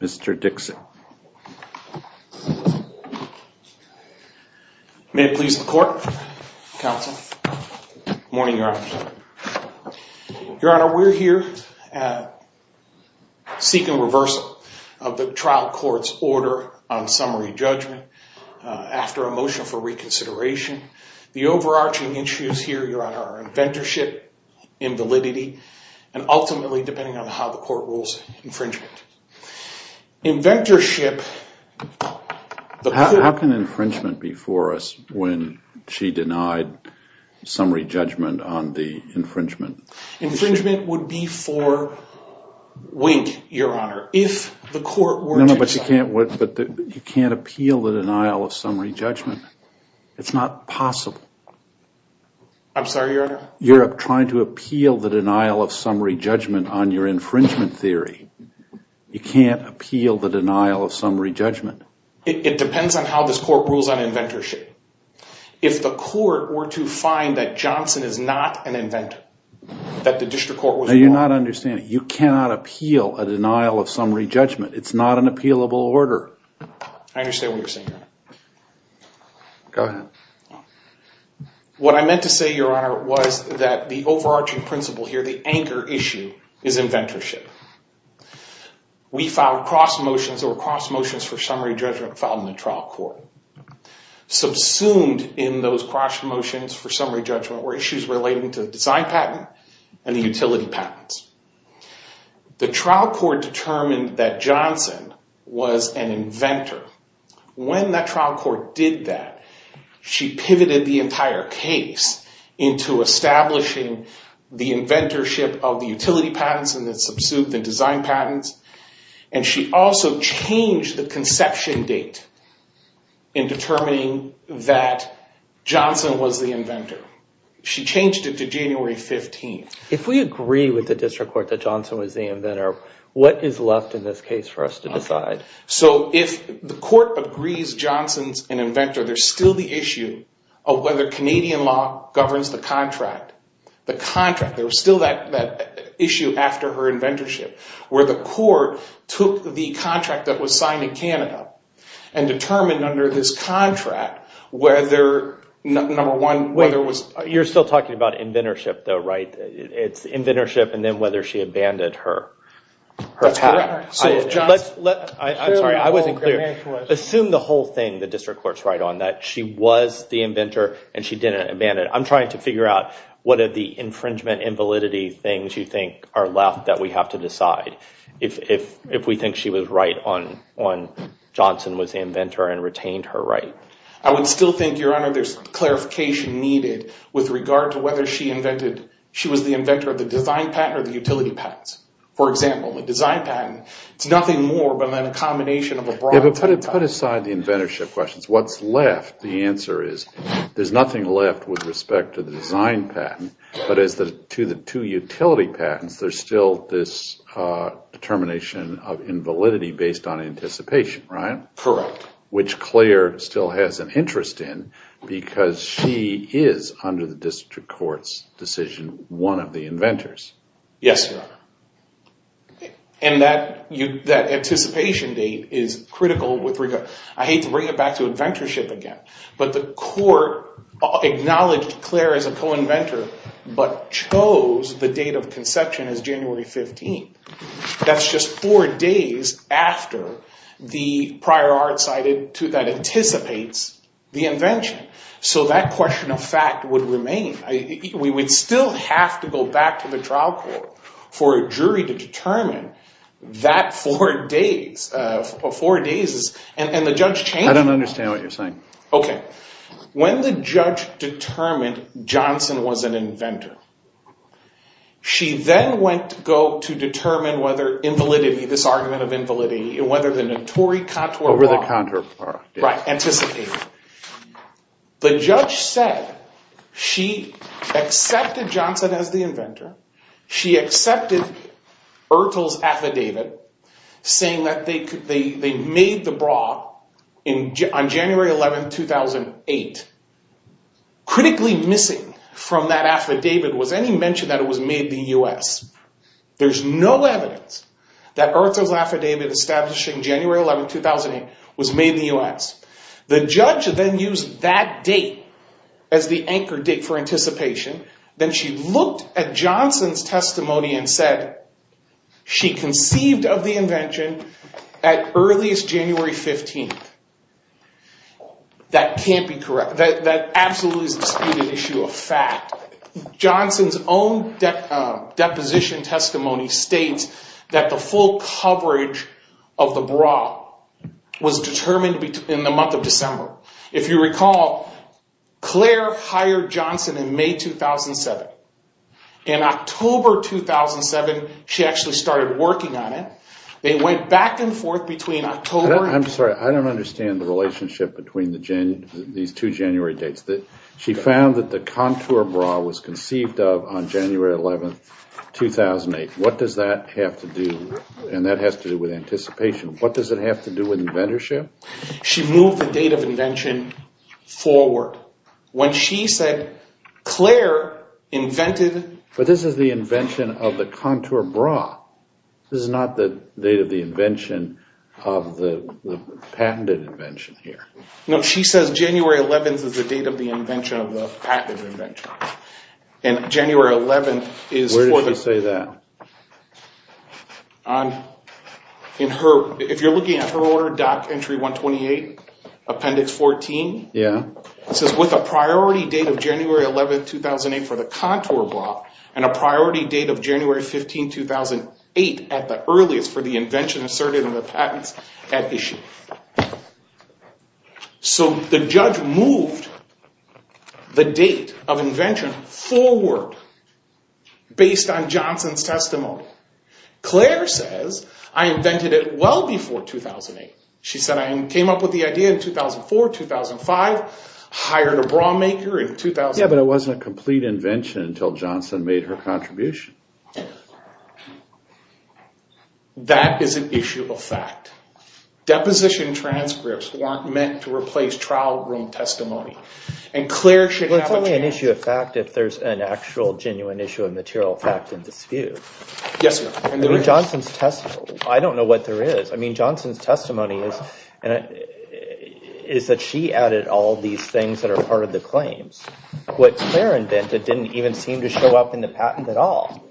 Mr. Dixit May it please the court, counsel, good morning your honor. Your honor, we're here seeking reversal of the trial court's order on summary judgment after a motion for reconsideration. The overarching issues here, your honor, are inventorship, invalidity, and ultimately depending on how the court rules, infringement. Inventorship... How can infringement be for us when she denied summary judgment on the infringement? Infringement would be for wink, your honor, if the court were to decide... No, no, but you can't appeal the denial of summary judgment. It's not possible. I'm sorry, your honor? You're trying to appeal the denial of summary judgment on your infringement theory. You can't appeal the denial of summary judgment. It depends on how this court rules on inventorship. If the court were to find that Johnson is not an inventor, that the district court was wrong... No, you're not understanding. You cannot appeal a denial of summary judgment. It's not an appealable order. I understand what you're saying, your honor. What I meant to say, your honor, was that the overarching principle here, the anchor issue, is inventorship. We filed cross motions or cross motions for summary judgment filed in the trial court. Subsumed in those cross motions for summary judgment were issues relating to the design patent and the utility patents. The trial court determined that Johnson was an inventor. When that trial court did that, she pivoted the entire case into establishing the inventorship of the utility patents and the design patents. She also changed the conception date in determining that Johnson was the inventor. She changed it to January 15th. If we agree with the district court that Johnson was the inventor, what is left in this case for us to decide? If the court agrees Johnson's an inventor, there's still the issue of whether Canadian law governs the contract. There's still that issue after her inventorship where the court took the contract that was signed in Canada and determined under this contract whether, number one, whether it was... You're still talking about inventorship though, right? It's inventorship and then whether she abandoned her patent. That's correct. I'm sorry, I wasn't clear. Assume the whole thing the district court's right on, that she was the inventor and she didn't abandon it. I'm trying to figure out what are the infringement invalidity things you think are left that we have to decide if we think she was right on Johnson was the inventor and retained her right. I would still think, Your Honor, there's clarification needed with regard to whether she was the inventor of the design patent or the utility patents. For example, the design patent, it's nothing more than a combination of a broad type... Yeah, but put aside the inventorship questions. What's left? The answer is there's nothing left with respect to the design patent, but as to the two utility patents, there's still this determination of invalidity based on anticipation, right? Correct. Which Claire still has an interest in because she is under the district court's decision one of the inventors. Yes, Your Honor. That anticipation date is critical with regard... I hate to bring it back to inventorship again, but the court acknowledged Claire as a co-inventor but chose the date of conception as January 15th. That's just four days after the prior art cited that anticipates the invention. So that question of fact would remain. We would still have to go back to the trial court for a jury to determine that four days and the judge changed... I don't understand what you're saying. Okay. When the judge determined Johnson was an inventor, she then went to go to determine whether invalidity, this argument of invalidity, and whether the notorious contour bar... Over the contour bar, yes. Right. Anticipated. The judge said she accepted Johnson as the inventor. She accepted Ertl's affidavit saying that they made the bra on January 11th, 2008. Critically missing from that affidavit was any mention that it was made in the US. There's no evidence that Ertl's affidavit establishing January 11th, 2008 was made in the US. The judge then used that date as the anchor date for anticipation. Then she looked at Johnson's testimony and said she conceived of the invention at earliest January 15th. That can't be correct. That absolutely is a disputed issue of fact. Johnson's own deposition testimony states that the full coverage of the bra was determined in the month of December. If you recall, Claire hired Johnson in May 2007. In October 2007, she actually started working on it. They went back and forth between October and... I'm sorry. I don't understand the relationship between these two January dates. She found that the contour bra was conceived of on January 11th, 2008. What does that have to do, and that has to do with anticipation, what does it have to do with inventorship? She moved the date of invention forward. When she said Claire invented... But this is the invention of the contour bra. This is not the date of the invention of the patented invention here. No, she says January 11th is the date of the invention of the patented invention. And January 11th is for the... Where did she say that? If you're looking at her order, Dock Entry 128, Appendix 14, it says with a priority date of January 11th, 2008 for the contour bra, and a priority date of January 15th, 2008 at the earliest for the invention asserted in the patents at issue. So, the judge moved the date of invention forward based on Johnson's testimony. Claire says, I invented it well before 2008. She said, I came up with the idea in 2004, 2005, hired a bra maker in 2000. Yeah, but it wasn't a complete invention until Johnson made her contribution. That is an issue of fact. Deposition transcripts weren't meant to replace trial room testimony. And Claire should have a chance... It's only an issue of fact if there's an actual genuine issue of material fact in dispute. Yes, ma'am. And there is. I mean, Johnson's testimony... I don't know what there is. I mean, Johnson's testimony is that she added all these things that are part of the claims. What Claire invented didn't even seem to show up in the patent at all.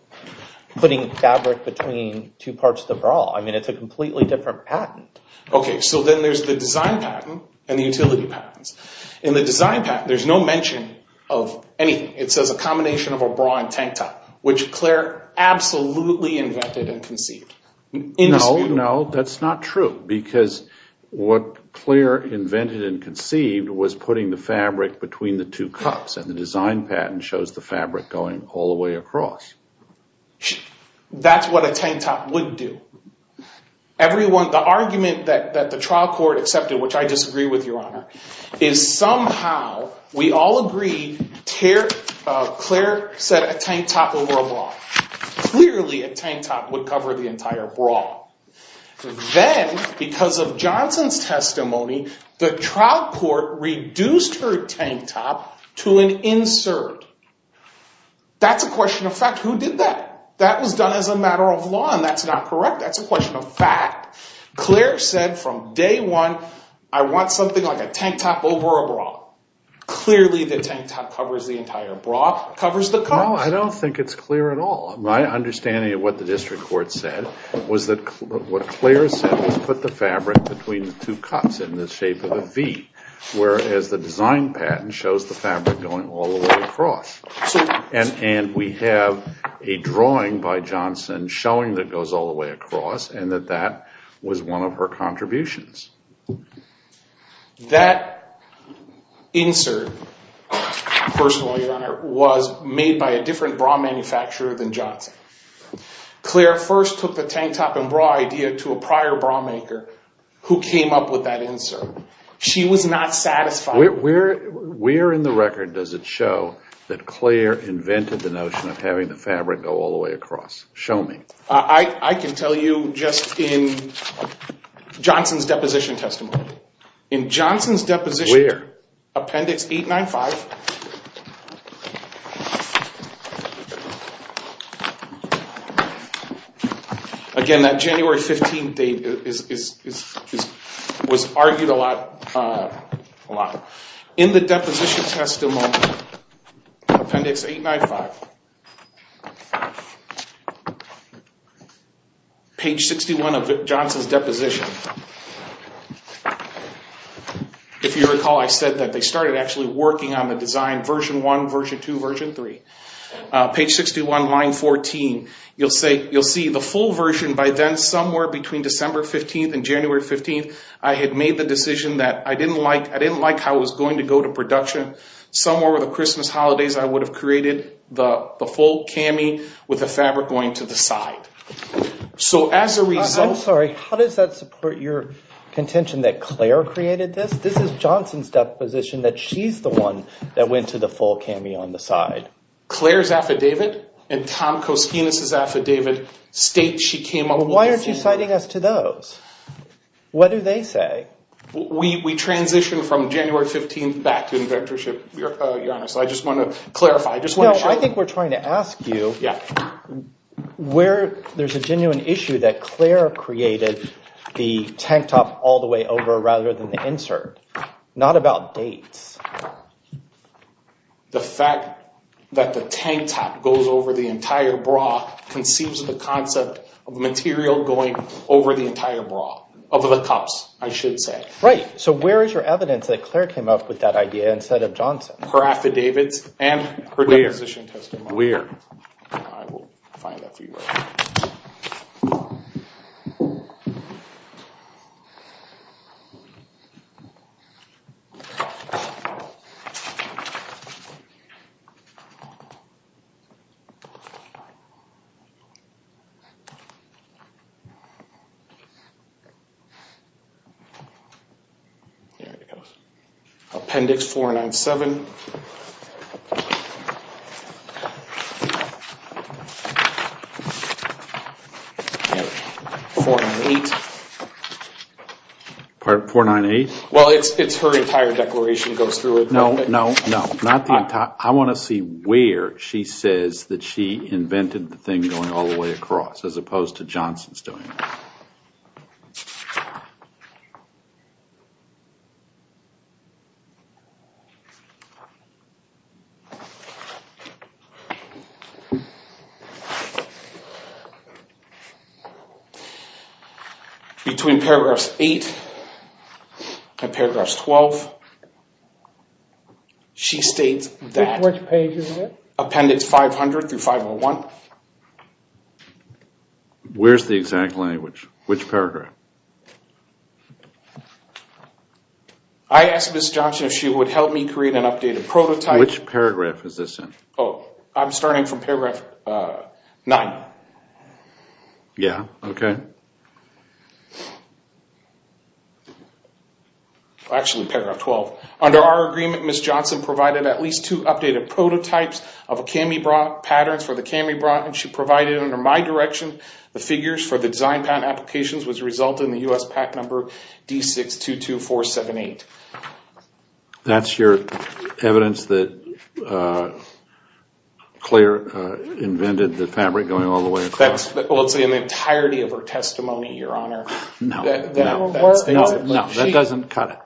Putting fabric between two parts of the bra. I mean, it's a completely different patent. Okay, so then there's the design patent and the utility patents. In the design patent, there's no mention of anything. It says a combination of a bra and tank top, which Claire absolutely invented and conceived. No, no, that's not true. Because what Claire invented and conceived was putting the fabric between the two cups. And the design patent shows the fabric going all the way across. That's what a tank top would do. The argument that the trial court accepted, which I disagree with, Your Honor, is somehow we all agree Claire said a tank top over a bra. Clearly a tank top would cover the entire bra. Then, because of Johnson's testimony, the trial court reduced her tank top to an insert. That's a question of fact. Who did that? That was done as a matter of law and that's not correct. That's a question of fact. Claire said from day one, I want something like a tank top over a bra. Clearly the tank top covers the entire bra, covers the cup. No, I don't think it's clear at all. My understanding of what the district court said was that what Claire said was put the fabric between the two cups in the shape of a V, whereas the design patent shows the fabric going all the way across. And we have a drawing by Johnson showing that goes all the way across and that that was one of her contributions. That insert, personally, Your Honor, was made by a different bra manufacturer than Johnson. Claire first took the tank top and bra idea to a prior bra maker who came up with that insert. She was not satisfied. Where in the record does it show that Claire invented the notion of having the fabric go all the way across? Show me. I can tell you just in Johnson's deposition testimony. In Johnson's deposition. Where? Appendix 895. Again, that January 15th date was argued a lot. In the deposition testimony, appendix 895, page 61 of Johnson's deposition, if you recall, I said that they started actually working on the design, version 1, version 2, version 3. Page 61, line 14. You'll see the full version by then somewhere between December 15th and January 15th. I had made the decision that I didn't like how it was going to go to production. Somewhere over the Christmas holidays, I would have created the full cami with the fabric going to the side. I'm sorry. How does that support your contention that Claire created this? This is Johnson's deposition that she's the one that went to the full cami on the side. Claire's affidavit and Tom Koskinas' affidavit state she came up with this idea. Why aren't you citing us to those? What do they say? We transitioned from January 15th back to inventorship, Your Honor. I just want to clarify. I think we're trying to ask you where there's a genuine issue that Claire created the tank top all the way over rather than the insert. Not about dates. The fact that the tank top goes over the entire bra conceives the concept of material going over the entire bra, over the cups, I should say. Right. So where is your evidence that Claire came up with that idea instead of Johnson? Her affidavits and her deposition testimony. Where? I will find that for you. There it goes. Appendix 497. 498. 498? Well, it's her entire declaration that goes through it. No, no, no. I want to see where she says that she invented the thing going all the way across as opposed to Johnson's doing it. Okay. Between paragraphs 8 and paragraphs 12, she states that appendix 500 through 501. Where's the exact language? Which paragraph? I asked Ms. Johnson if she would help me create an updated prototype. Which paragraph is this in? I'm starting from paragraph 9. Yeah, okay. Actually, paragraph 12. Under our agreement, Ms. Johnson provided at least two updated prototypes of Kami-Brock patterns for the Kami-Brock, and she provided under my direction the figures for the design patent applications which resulted in the U.S. PAC number D622478. That's your evidence that Claire invented the fabric going all the way across? Well, it's in the entirety of her testimony, Your Honor. No, no. That doesn't cut it.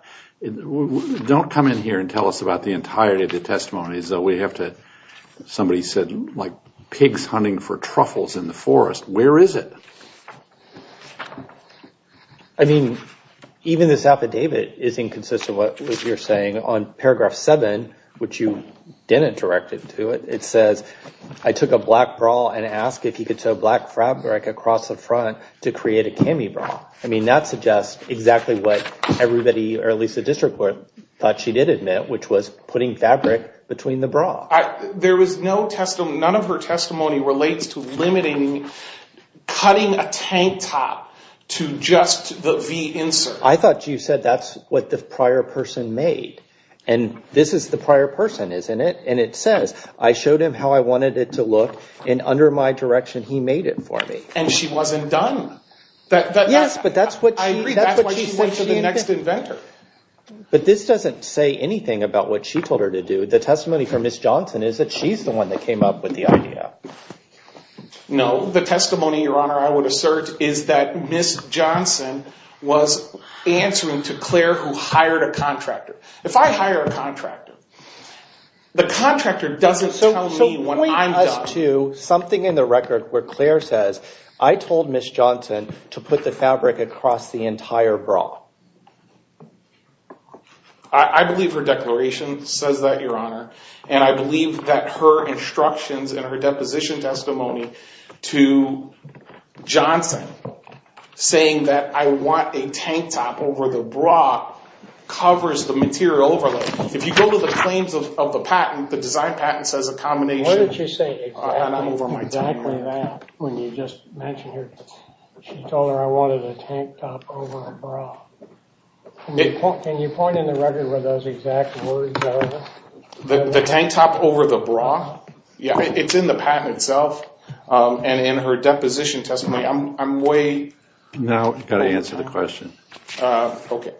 Don't come in here and tell us about the entirety of the testimony, as though we have to, somebody said, like pigs hunting for truffles in the forest. Where is it? I mean, even this affidavit isn't consistent with what you're saying. On paragraph 7, which you didn't direct it to, it says, I took a black bra and asked if you could sew black fabric across the front to create a Kami-Brock. I mean, that suggests exactly what everybody, or at least the district court, thought she did admit, which was putting fabric between the bra. There was no testimony, none of her testimony relates to limiting, cutting a tank top to just the V insert. I thought you said that's what the prior person made. And this is the prior person, isn't it? And it says, I showed him how I wanted it to look, and under my direction he made it for me. And she wasn't done. Yes, but that's what she said. But this doesn't say anything about what she told her to do. The testimony from Ms. Johnson is that she's the one that came up with the idea. No, the testimony, Your Honor, I would assert, is that Ms. Johnson was answering to Claire, who hired a contractor. If I hire a contractor, the contractor doesn't tell me when I'm done. Something in the record where Claire says, I told Ms. Johnson to put the fabric across the entire bra. I believe her declaration says that, Your Honor. And I believe that her instructions and her deposition testimony to Johnson, saying that I want a tank top over the bra, covers the material overlay. If you go to the claims of the patent, the design patent says a combination Where did she say exactly that when you just mentioned her? She told her I wanted a tank top over a bra. Can you point in the record where those exact words are? The tank top over the bra? Yes. It's in the patent itself. And in her deposition testimony, I'm way… No, you've got to answer the question. Okay.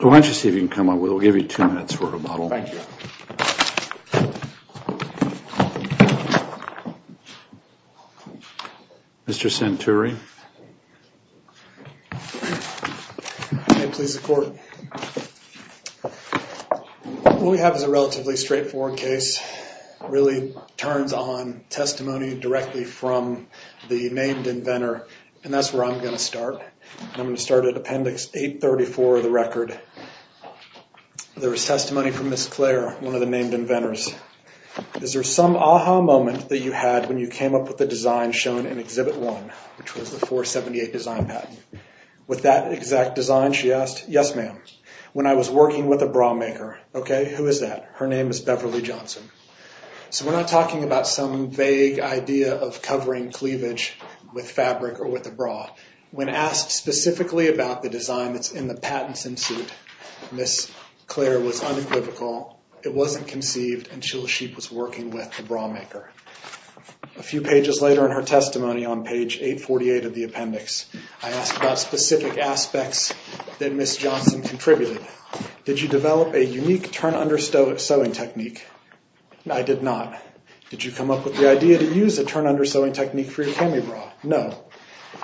Why don't you see if you can come up with… We'll give you two minutes for rebuttal. Thank you. Mr. Santuri. May it please the Court. What we have is a relatively straightforward case. It really turns on testimony directly from the named inventor, and that's where I'm going to start. I'm going to start at Appendix 834 of the record. There is testimony from Ms. Clare, one of the named inventors. Is there some aha moment that you had when you came up with the design shown in Exhibit 1, which was the 478 design patent? With that exact design, she asked, Yes, ma'am. When I was working with a bra maker, Okay, who is that? Her name is Beverly Johnson. So we're not talking about some vague idea of covering cleavage with fabric or with a bra. When asked specifically about the design that's in the patents in suit, Ms. Clare was unequivocal. It wasn't conceived until she was working with the bra maker. A few pages later in her testimony on Page 848 of the appendix, I asked about specific aspects that Ms. Johnson contributed. Did you develop a unique turn-under sewing technique? I did not. Did you come up with the idea to use a turn-under sewing technique for your cami bra? No.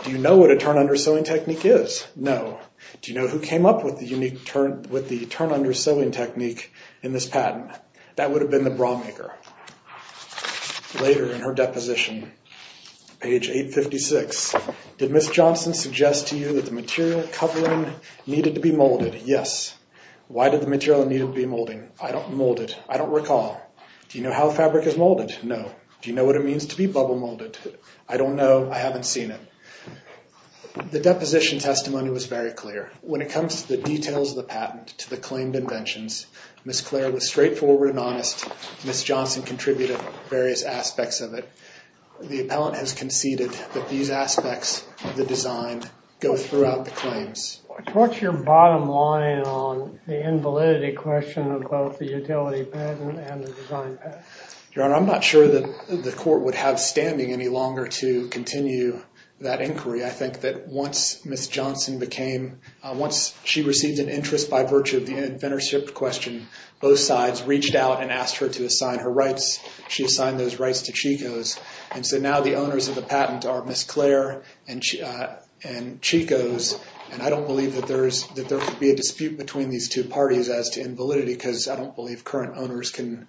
Do you know what a turn-under sewing technique is? No. Do you know who came up with the turn-under sewing technique in this patent? That would have been the bra maker. Later in her deposition, Page 856, Did Ms. Johnson suggest to you that the material covering needed to be molded? Yes. Why did the material need to be molded? I don't mold it. I don't recall. Do you know how fabric is molded? No. Do you know what it means to be bubble molded? I don't know. I haven't seen it. The deposition testimony was very clear. When it comes to the details of the patent to the claimed inventions, Ms. Clare was straightforward and honest. Ms. Johnson contributed various aspects of it. The appellant has conceded that these aspects of the design go throughout the claims. What's your bottom line on the invalidity question of both the utility patent and the design patent? Your Honor, I'm not sure that the court would have standing any longer to continue that inquiry. I think that once Ms. Johnson became, once she received an interest by virtue of the inventorship question, both sides reached out and asked her to assign her rights. She assigned those rights to Chico's, and so now the owners of the patent are Ms. Clare and Chico's, and I don't believe that there could be a dispute between these two parties as to invalidity because I don't believe current owners can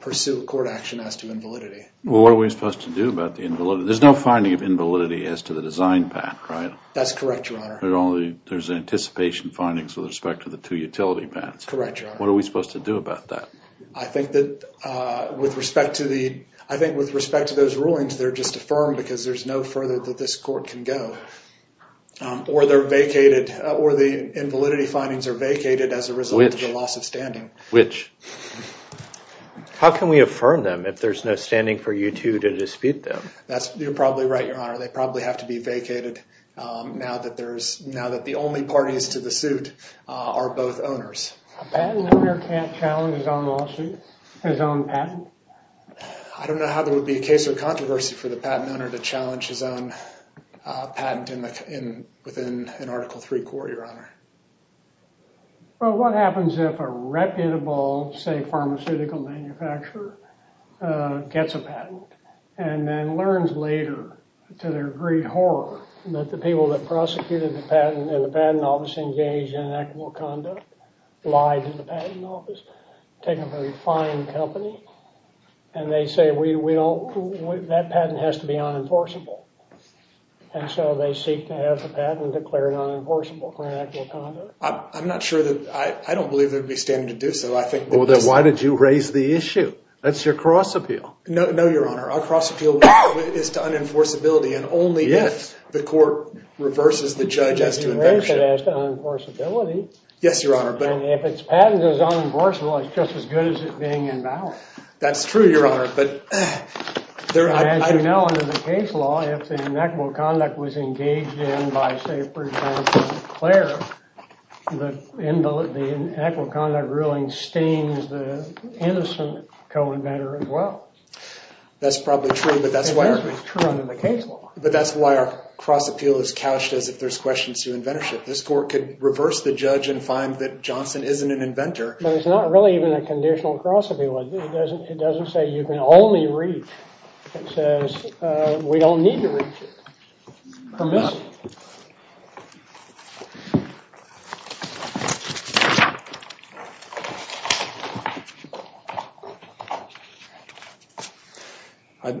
pursue a court action as to invalidity. Well, what are we supposed to do about the invalidity? There's no finding of invalidity as to the design patent, right? That's correct, Your Honor. There's anticipation findings with respect to the two utility patents. Correct, Your Honor. What are we supposed to do about that? I think that with respect to those rulings, they're just affirmed because there's no further that this court can go, or they're vacated, or the invalidity findings are vacated as a result of the loss of standing. Which? How can we affirm them if there's no standing for you two to dispute them? You're probably right, Your Honor. They probably have to be vacated now that the only parties to the suit are both owners. A patent owner can't challenge his own patent? I don't know how there would be a case of controversy for the patent owner to challenge his own patent within an Article III court, Your Honor. Well, what happens if a reputable, say, pharmaceutical manufacturer gets a patent and then learns later, to their great horror, that the people that prosecuted the patent in the patent office engaged in inequitable conduct, lied to the patent office, take up a refined company, and they say, that patent has to be unenforceable. And so they seek to have the patent declared unenforceable for inequitable conduct. I'm not sure that, I don't believe there would be standing to do so. Well, then why did you raise the issue? That's your cross appeal. No, Your Honor. Our cross appeal is to unenforceability, and only if the court reverses the judge as to inventorship. Yes, Your Honor. And if its patent is unenforceable, it's just as good as it being invalid. That's true, Your Honor. But, as you know, under the case law, if the inequitable conduct was engaged in by, say, for example, Claire, the inequitable conduct ruling stains the innocent co-inventor as well. That's probably true, but that's why our cross appeal is couched as if there's questions to inventorship. This court could reverse the judge and find that Johnson isn't an inventor. But it's not really even a conditional cross appeal. It doesn't say you can only reach. It says we don't need to reach it. Permission.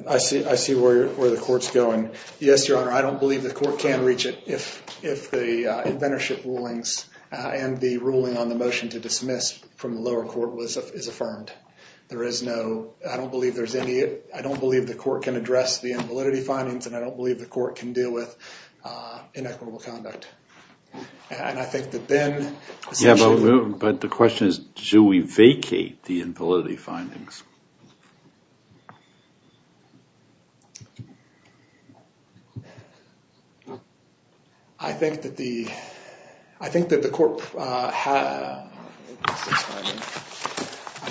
I see where the court's going. Yes, Your Honor, I don't believe the court can reach it if the inventorship rulings and the ruling on the motion to dismiss from the lower court is affirmed. There is no—I don't believe there's any—I don't believe the court can address the invalidity findings, and I don't believe the court can deal with inequitable conduct. And I think that then— But the question is, should we vacate the invalidity findings? I think that the court—I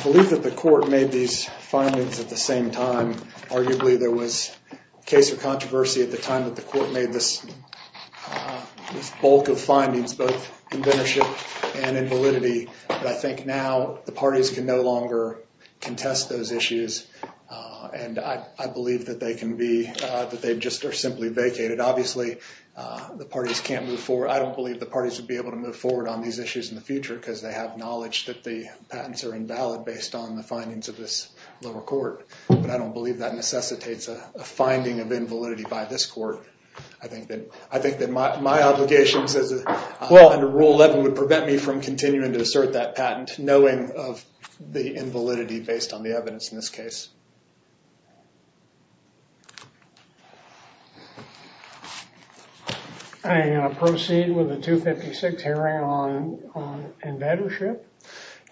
believe that the court made these findings at the same time. Arguably, there was a case of controversy at the time that the court made this bulk of findings, both inventorship and invalidity. But I think now the parties can no longer contest those issues, and I believe that they can be—that they just are simply vacated. Obviously, the parties can't move forward. I don't believe the parties would be able to move forward on these issues in the future because they have knowledge that the patents are invalid based on the findings of this lower court. But I don't believe that necessitates a finding of invalidity by this court. I think that my obligations under Rule 11 would prevent me from continuing to assert that patent, knowing of the invalidity based on the evidence in this case. And proceed with the 256 hearing on inventorship?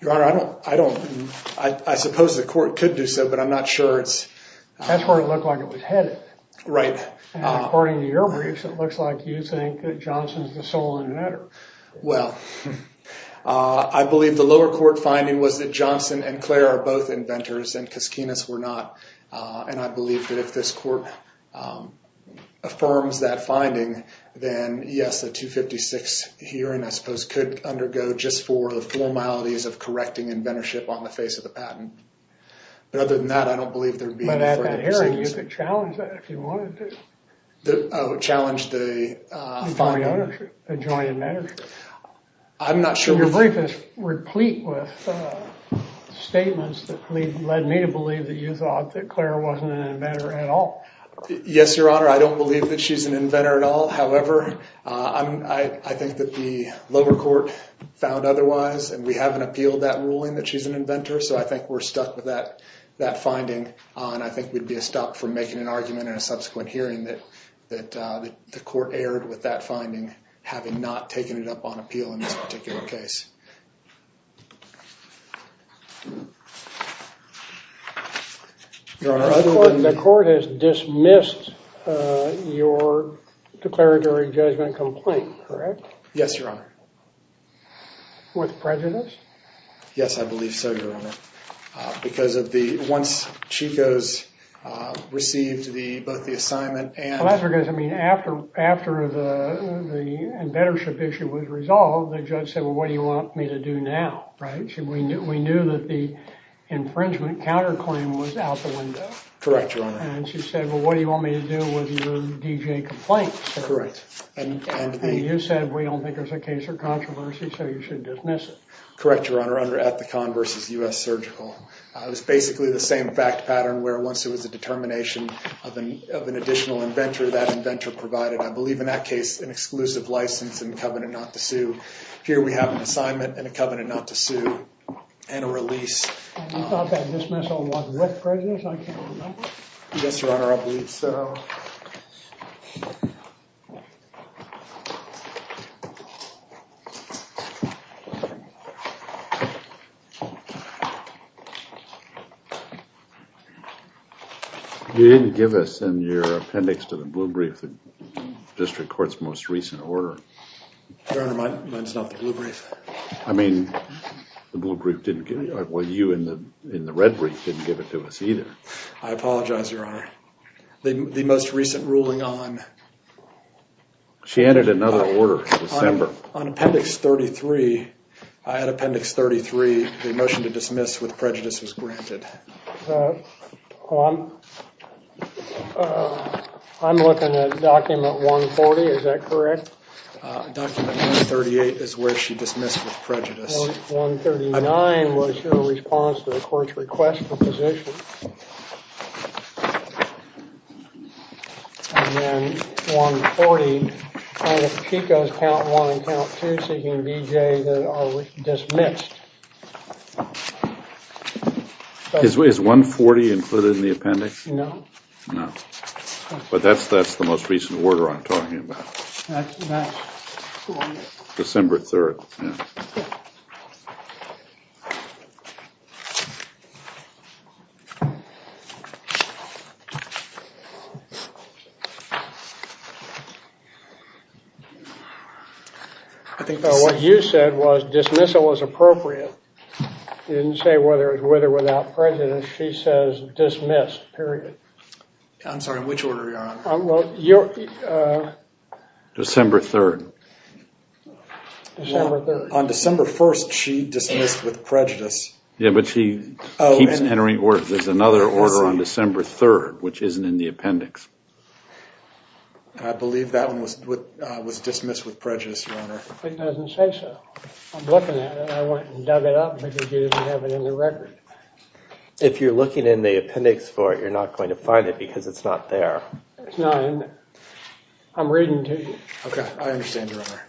Your Honor, I don't—I suppose the court could do so, but I'm not sure it's— Right. And according to your briefs, it looks like you think that Johnson's the sole inventor. Well, I believe the lower court finding was that Johnson and Clare are both inventors, and Koskinas were not. And I believe that if this court affirms that finding, then yes, the 256 hearing, I suppose, could undergo just for the formalities of correcting inventorship on the face of the patent. But other than that, I don't believe there would be— You could challenge that if you wanted to. Oh, challenge the finding? The joint inventorship. I'm not sure— Your brief is replete with statements that led me to believe that you thought that Clare wasn't an inventor at all. Yes, Your Honor, I don't believe that she's an inventor at all. However, I think that the lower court found otherwise, and we haven't appealed that ruling that she's an inventor. So I think we're stuck with that finding, and I think we'd be a stop from making an argument in a subsequent hearing that the court erred with that finding, having not taken it up on appeal in this particular case. Your Honor, other than— The court has dismissed your declaratory judgment complaint, correct? Yes, Your Honor. With prejudice? Yes, I believe so, Your Honor. Because of the—once Chico's received both the assignment and— Well, that's because, I mean, after the inventorship issue was resolved, the judge said, well, what do you want me to do now, right? We knew that the infringement counterclaim was out the window. Correct, Your Honor. And she said, well, what do you want me to do with your D.J. complaint? Correct. And you said, we don't think there's a case or controversy, so you should dismiss it. Correct, Your Honor. Under Ethicon v. U.S. Surgical. It was basically the same fact pattern where once there was a determination of an additional inventor, that inventor provided, I believe in that case, an exclusive license and covenant not to sue. Here we have an assignment and a covenant not to sue and a release. And you thought that dismissal was with prejudice? I can't remember. Yes, Your Honor, I believe so. You didn't give us in your appendix to the blue brief the district court's most recent order. Your Honor, mine's not the blue brief. I mean, the blue brief didn't give—well, you in the red brief didn't give it to us either. I apologize, Your Honor. The most recent ruling on— She added another order in December. On Appendix 33, I had Appendix 33, the motion to dismiss with prejudice was granted. I'm looking at Document 140. Is that correct? Document 138 is where she dismissed with prejudice. 139 was her response to the court's request for position. And then 140, she goes count one and count two, seeking a BJA that are dismissed. Is 140 included in the appendix? No. No. But that's the most recent order I'm talking about. That's correct. December 3rd, yeah. I think— What you said was dismissal was appropriate. You didn't say whether it was with or without prejudice. She says dismissed, period. I'm sorry, which order, Your Honor? December 3rd. December 3rd. On December 1st, she dismissed with prejudice. Yeah, but she keeps entering words. There's another order. There's another order on December 3rd, which isn't in the appendix. I believe that one was dismissed with prejudice, Your Honor. It doesn't say so. I'm looking at it. I went and dug it up because you didn't have it in the record. If you're looking in the appendix for it, you're not going to find it because it's not there. It's not in there. I'm reading to you. Okay, I understand, Your Honor.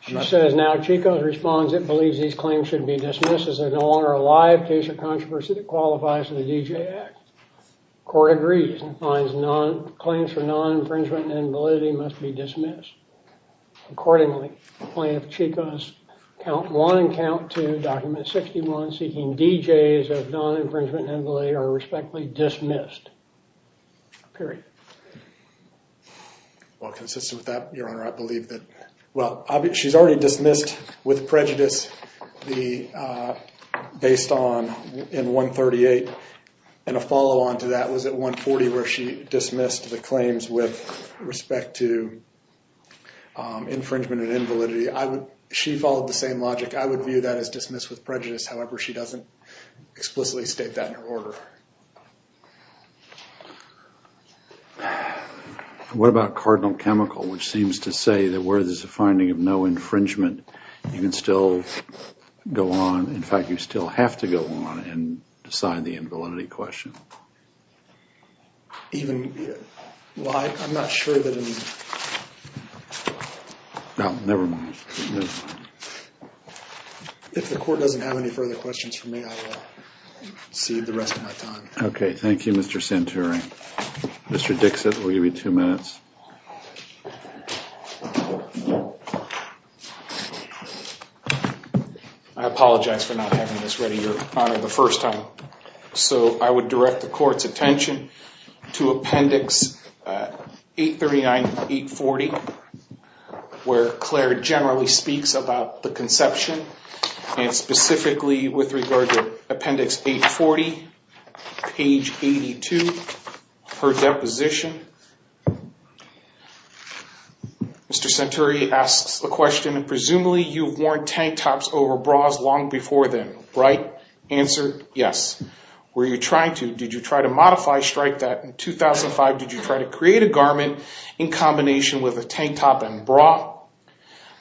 She says now Chico responds it believes these claims should be dismissed as they're no longer a live case of controversy that qualifies for the DJ Act. Court agrees and finds claims for non-infringement and invalidity must be dismissed. Accordingly, plaintiff Chico's Count 1 and Count 2, Document 61, seeking DJs of non-infringement and invalidity are respectfully dismissed. Period. Well, consistent with that, Your Honor, I believe that, well, she's already dismissed with prejudice based on in 138, and a follow-on to that was at 140 where she dismissed the claims with respect to infringement and invalidity. She followed the same logic. I would view that as dismiss with prejudice. However, she doesn't explicitly state that in her order. What about Cardinal Chemical, which seems to say that where there's a finding of no infringement, you can still go on. In fact, you still have to go on and decide the invalidity question. Even why? I'm not sure that I'm... Well, never mind. Never mind. If the court doesn't have any further questions for me, I will cede the rest of my time. Okay, thank you, Mr. Santuri. Mr. Dixit, we'll give you two minutes. I apologize for not having this ready, Your Honor, the first time. So I would direct the court's attention to Appendix 839-840, where Claire generally speaks about the conception, and specifically with regard to Appendix 840, page 82, her deposition. Mr. Santuri asks the question, Presumably you've worn tank tops over bras long before then, right? Answer, yes. Were you trying to? Did you try to modify, strike that in 2005? Did you try to create a garment in combination with a tank top and bra?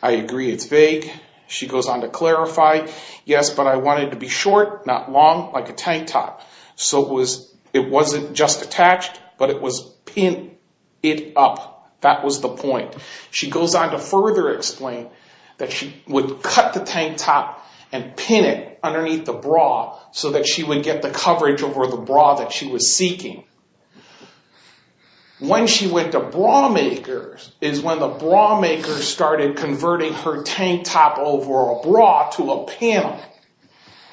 I agree it's vague. She goes on to clarify, Yes, but I want it to be short, not long, like a tank top. So it wasn't just attached, but it was pinned up. That was the point. She goes on to further explain that she would cut the tank top and pin it underneath the bra so that she would get the coverage over the bra that she was seeking. When she went to bra makers is when the bra makers started converting her tank top over a bra to a panel.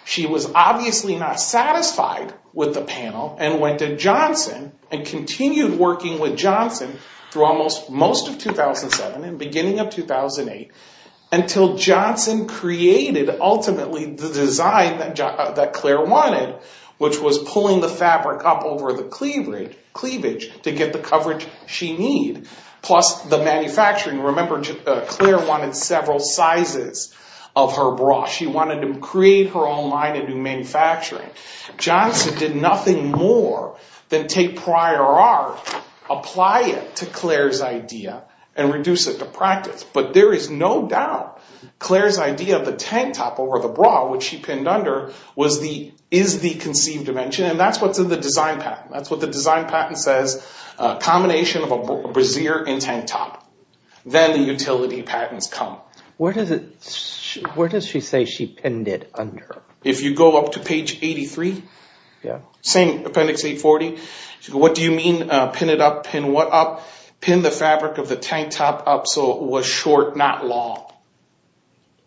She was obviously not satisfied with the panel and went to Johnson and continued working with Johnson through almost most of 2007 and beginning of 2008 until Johnson created ultimately the design that Claire wanted, which was pulling the fabric up over the cleavage to get the coverage she needed. Plus the manufacturing. Remember, Claire wanted several sizes of her bra. She wanted to create her own line and do manufacturing. Johnson did nothing more than take prior art, apply it to Claire's idea, and reduce it to practice. But there is no doubt Claire's idea of the tank top over the bra, which she pinned under, is the conceived invention. And that's what's in the design patent. That's what the design patent says. A combination of a brassiere and tank top. Then the utility patents come. Where does she say she pinned it under? If you go up to page 83, same Appendix 840, what do you mean, pin it up, pin what up? Pin the fabric of the tank top up so it was short, not long.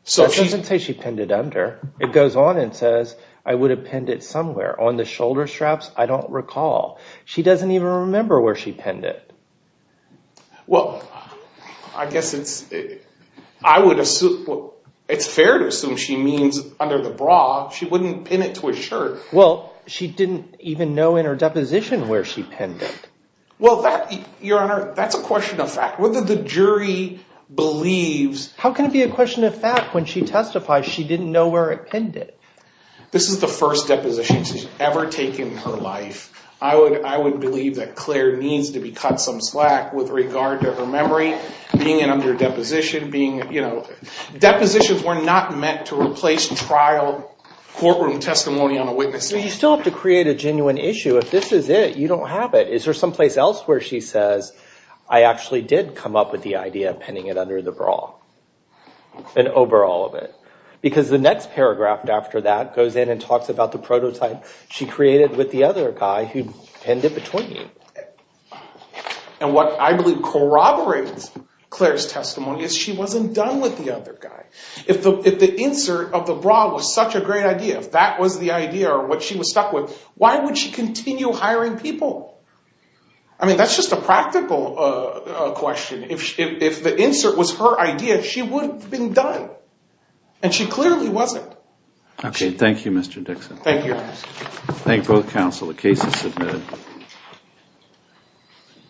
That doesn't say she pinned it under. It goes on and says, I would have pinned it somewhere. On the shoulder straps, I don't recall. She doesn't even remember where she pinned it. Well, I guess it's fair to assume she means under the bra. She wouldn't pin it to a shirt. Well, she didn't even know in her deposition where she pinned it. Well, Your Honor, that's a question of fact. Whether the jury believes... How can it be a question of fact when she testifies she didn't know where it pinned it? This is the first deposition she's ever taken in her life. I would believe that Claire needs to be cut some slack with regard to her memory being in under deposition. Depositions were not meant to replace trial courtroom testimony on a witness. You still have to create a genuine issue. If this is it, you don't have it. Is there someplace else where she says, I actually did come up with the idea of pinning it under the bra and over all of it? Because the next paragraph after that goes in and talks about the prototype she created with the other guy who pinned it between me. And what I believe corroborates Claire's testimony is she wasn't done with the other guy. If the insert of the bra was such a great idea, if that was the idea or what she was stuck with, why would she continue hiring people? I mean, that's just a practical question. If the insert was her idea, she would have been done. And she clearly wasn't. Okay, thank you, Mr. Dixon. Thank you. Thank both counsel. The case is submitted.